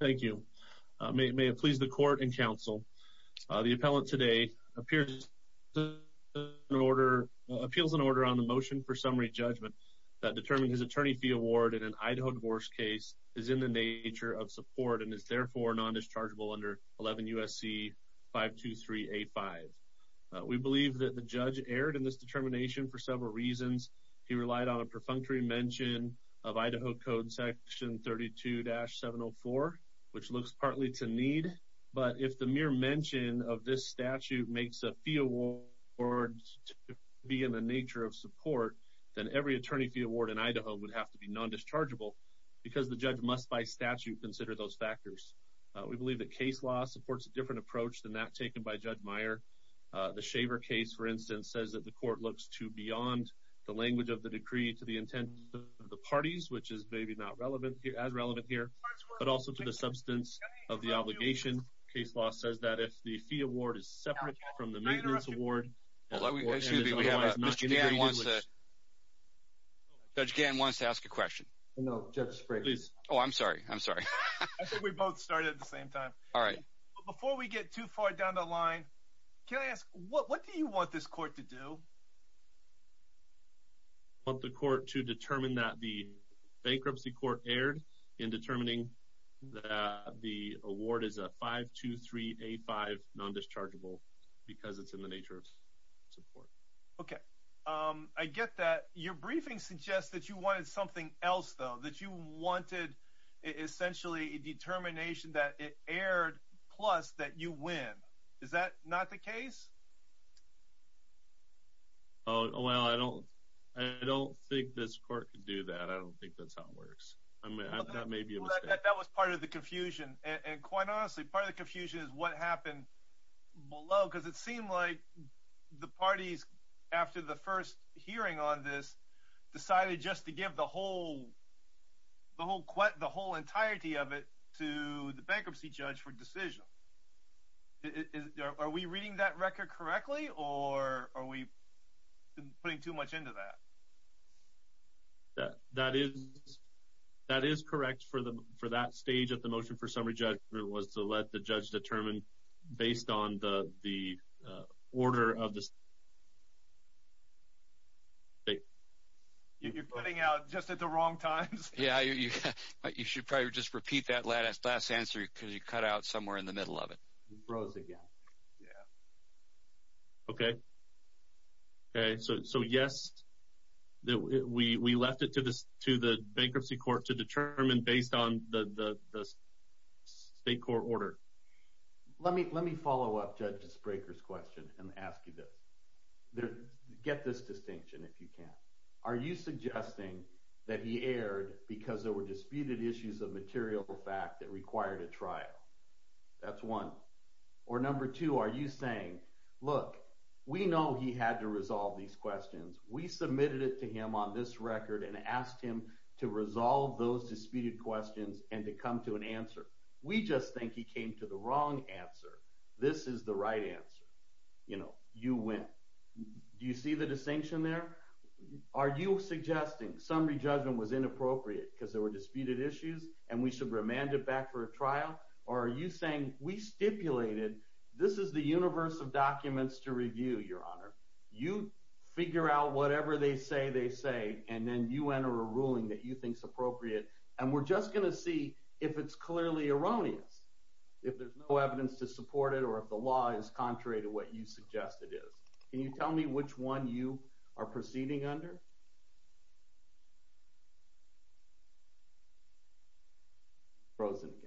Thank you. May it please the Court and Counsel, the appellant today appeals an order on the motion for summary judgment that determined his attorney fee award in an Idaho divorce case is in the nature of support and is therefore non-dischargeable under 11 U.S.C. 523-A5. We believe that the judge erred in this determination for several reasons. He relied on a perfunctory mention of Idaho Code Section 32-704, which looks partly to need, but if the mere mention of this statute makes a fee award to be in the nature of support, then every attorney fee award in Idaho would have to be non-dischargeable because the judge must by statute consider those factors. We believe that case law supports a different approach than that taken by Judge Meyer. The Shaver case, for instance, says that the Court looks to beyond the language of the decree to the intent of the parties, which is maybe not as relevant here, but also to the substance of the obligation. Case law says that if the fee award is separate from the maintenance award, then the award is otherwise non-dischargeable. Judge Gann wants to ask a question. Oh, I'm sorry. I think we both started at the same time. Before we get too far down the line, can I ask, what do you want this Court to do? I want the Court to determine that the bankruptcy court erred in determining that the award is a 523A5 non-dischargeable because it's in the nature of support. Okay. I get that. Your briefing suggests that you wanted something else, though, that you Is that not the case? Oh, well, I don't think this Court can do that. I don't think that's how it works. That may be a mistake. That was part of the confusion. And quite honestly, part of the confusion is what happened below because it seemed like the parties, after the first hearing on this, decided just to give the whole entirety of it to the bankruptcy judge for decision. Are we reading that record correctly or are we putting too much into that? That is correct. For that stage of the motion for summary judgment, it was to let the judge determine based on the order of the state. You're putting out just at the wrong times. Yeah, you should probably just repeat that last answer because you cut out somewhere in the middle of it. It froze again. Yeah. Okay. So, yes, we left it to the bankruptcy court to determine based on the state court order. Let me follow up Judge Spraker's question and ask you this. Get this distinction if you can. Are you suggesting that he erred because there were disputed issues of material fact that required a trial? That's one. Or number two, are you saying, look, we know he had to resolve these questions. We submitted it to him on this record and asked him to answer. This is the right answer. You know, you win. Do you see the distinction there? Are you suggesting summary judgment was inappropriate because there were disputed issues and we should remand it back for a trial? Or are you saying we stipulated this is the universe of documents to review, Your Honor. You figure out whatever they say they say and then you enter a ruling that you think is appropriate. And we're just going to see if it's clearly erroneous, if there's no evidence to support it, or if the law is contrary to what you suggest it is. Can you tell me which one you are proceeding under?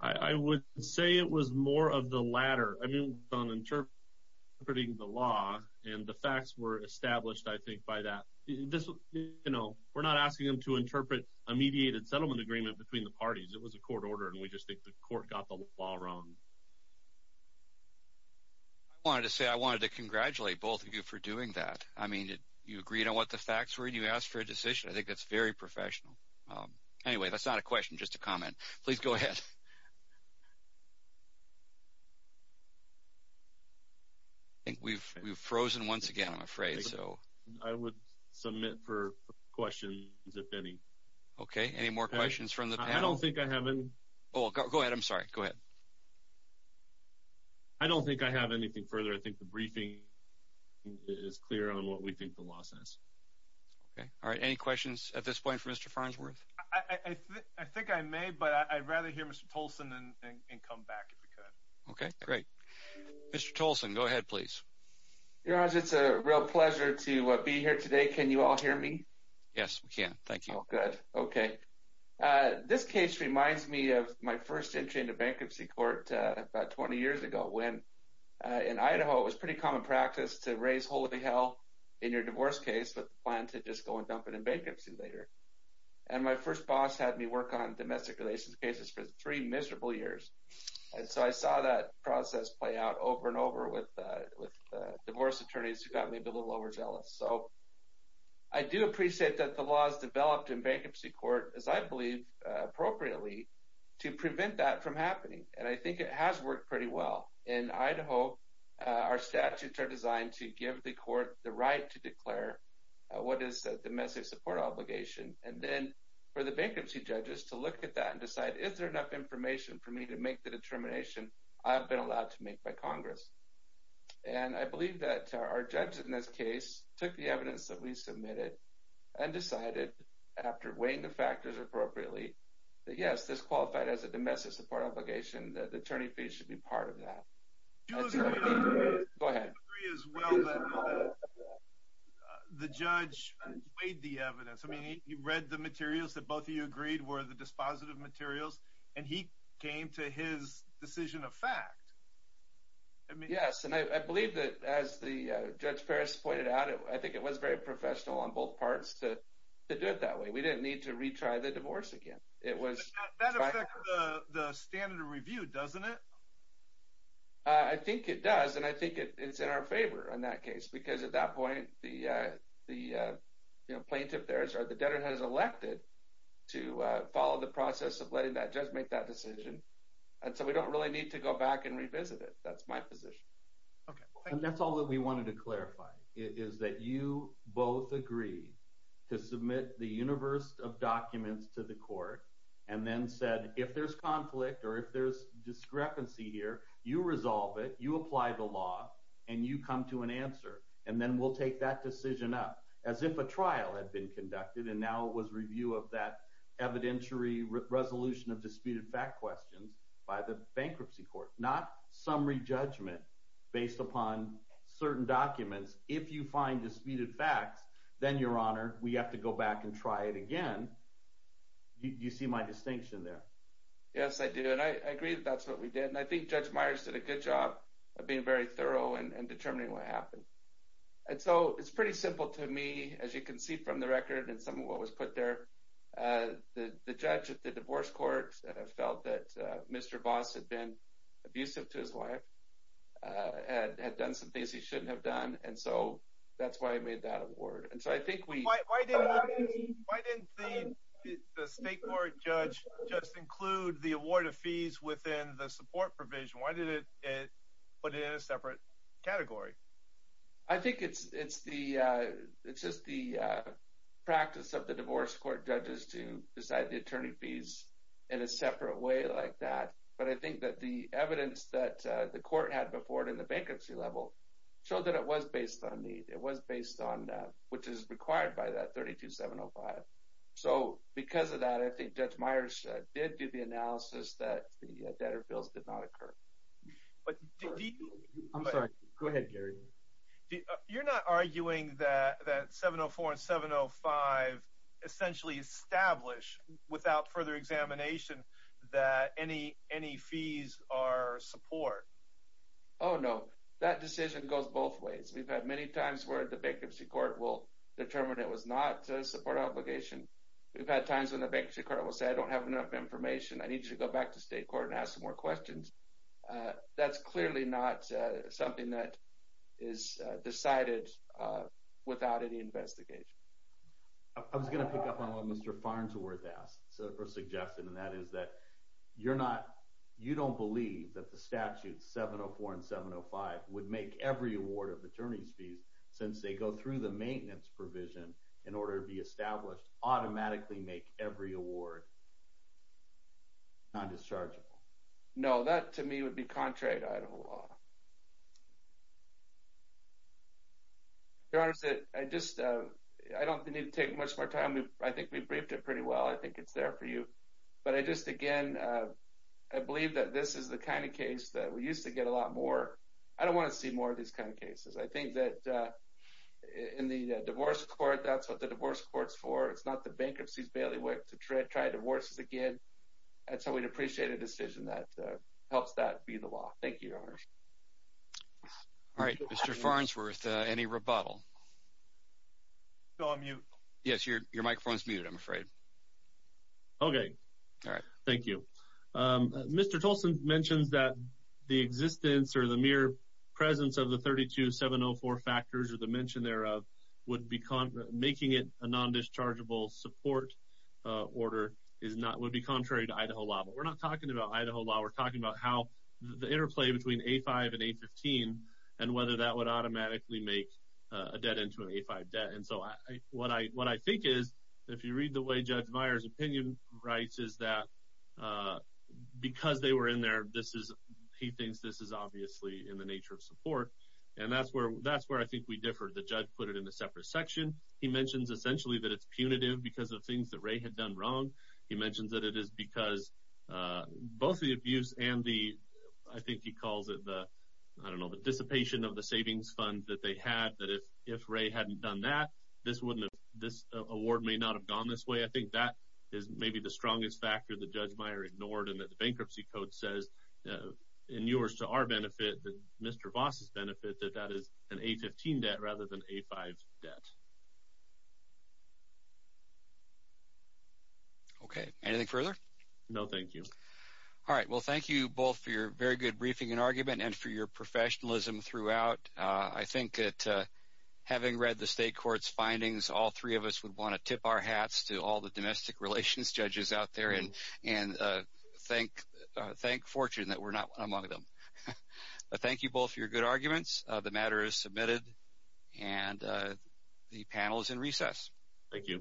I would say it was more of the latter. I mean, interpreting the law and the facts were established, I think, by that. You know, we're not asking him to interpret a mediated settlement agreement between the parties. It was a court order and we just think the court got the law wrong. I wanted to say I wanted to congratulate both of you for doing that. I mean, you agreed on what the facts were and you asked for a decision. I think that's very professional. Anyway, that's not a question, just a comment. Please go ahead. I think we've frozen once again, I'm afraid. I would submit for questions, if any. Okay, any more questions from the panel? I don't think I have any. Oh, go ahead. I'm sorry. Go ahead. I don't think I have anything further. I think the briefing is clear on what we think the law says. Okay. All right. Any questions at this point for Mr. Farnsworth? I think I may, but I'd rather hear Mr. Tolson and come back if we could. Okay, great. Mr. Tolson, go ahead, please. Your Honor, it's a real pleasure to be here today. Can you all hear me? Yes, we can. Thank you. Good. Okay. This case reminds me of my first entry into bankruptcy court about 20 years ago when, in Idaho, it was pretty common practice to raise holy hell in your divorce case with the plan to just go and dump it in bankruptcy later. And my first boss had me work on domestic relations cases for three miserable years. And so I saw that process play out over and over with divorce attorneys who got me a little overzealous. So I do appreciate that the laws developed in bankruptcy court, as I believe, appropriately, to prevent that from happening. And I think it has worked pretty well. In Idaho, our statutes are designed to give the court the right to declare what is a domestic support obligation, and then for the bankruptcy judges to look at that and decide, is there enough information for me to make the determination I've been allowed to make by Congress? And I believe that our judge in this case took the evidence that we submitted and decided, after weighing the factors appropriately, that yes, this qualified as a domestic support obligation, that the attorney fee should be part of that. Go ahead. The judge weighed the evidence. I mean, he read the materials that both of you agreed were the dispositive materials, and he came to his decision of fact. Yes, and I believe that, as the Judge Ferris pointed out, I think it was very professional on both parts to do it that way. We didn't need to retry the divorce again. That affects the standard of review, doesn't it? I think it does, and I think it's in our favor in that case, because at that point, the plaintiff there, the debtor has elected to follow the process of letting that judge make that decision, and so we don't really need to go back and revisit it. That's my position. And that's all that we wanted to clarify, is that you both agreed to submit the universe of documents to the court and then said, if there's conflict or if there's discrepancy here, you resolve it, you apply the law, and you come to an answer, and then we'll take that decision up, as if a trial had been conducted, and now it was review of that evidentiary resolution of disputed fact questions by the bankruptcy court, not summary judgment based upon certain documents. If you find disputed facts, then, Your Honor, we have to go back and try it again. You see my distinction there? Yes, I do, and I agree that that's what we did, and I think Judge Meyers did a good job of being very thorough and determining what happened. And so it's pretty simple to me, as you can see from the record and some of what was put there. The judge at the divorce court felt that Mr. Voss had been abusive to his wife, had done some things he shouldn't have done, and so that's why he made that award. And so I think we... The state court judge just include the award of fees within the support provision. Why did it put it in a separate category? I think it's just the practice of the divorce court judges to decide the attorney fees in a separate way like that, but I think that the evidence that the court had before it in the bankruptcy level showed that it was based on need. It was based on that, which is required by that 32705. So because of that, I think Judge Meyers did do the analysis that the debtor bills did not occur. I'm sorry. Go ahead, Gary. You're not arguing that 704 and 705 essentially establish without further examination that any fees are support? Oh, no. That decision goes both ways. We've had many times where the bankruptcy court will determine it was not a support obligation. We've had times when the bankruptcy court will say, I don't have enough information. I need you to go back to state court and ask some more questions. That's clearly not something that is decided without any investigation. I was going to pick up on what Mr. Farnsworth asked or suggested, and that is that you're not... You don't believe that the statute 704 and 705 would make every award of attorney's through the maintenance provision in order to be established automatically make every award non-dischargeable? No, that to me would be contrary to Idaho law. Your Honor, I don't think we need to take much more time. I think we briefed it pretty well. I think it's there for you. But I just, again, I believe that this is the kind of case that we used to get a lot more. I don't want to see more of these kind of cases. I think that in the divorce court, that's what the divorce court's for. It's not the bankruptcy's bailiwick to try divorces again. And so we'd appreciate a decision that helps that be the law. Thank you, Your Honor. All right, Mr. Farnsworth, any rebuttal? So, I'm mute. Yes, your microphone is muted, I'm afraid. Okay. All right. Thank you. Mr. Tolson mentions that the existence or the mere presence of the would be making it a non-dischargeable support order would be contrary to Idaho law. But we're not talking about Idaho law. We're talking about how the interplay between A5 and A15 and whether that would automatically make a debt into an A5 debt. And so what I think is, if you read the way Judge Meyer's opinion writes, is that because they were in there, he thinks this is obviously in the nature of support. And that's where I think we differ. The judge put it in a separate section. He mentions essentially that it's punitive because of things that Ray had done wrong. He mentions that it is because both the abuse and the, I think he calls it the, I don't know, the dissipation of the savings fund that they had, that if Ray hadn't done that, this award may not have gone this way. I think that is maybe the strongest factor that Judge Meyer ignored and that the bankruptcy code says, in yours to our benefit, that Mr. Voss's benefit, that that is an A15 debt rather than A5 debt. Okay. Anything further? No, thank you. All right. Well, thank you both for your very good briefing and argument and for your professionalism throughout. I think that having read the state court's findings, all three of us would want to tip our hats to all the domestic relations judges out there and thank fortune that we're not among them. Thank you both for your good arguments. The matter is submitted and the panel is in recess. Thank you.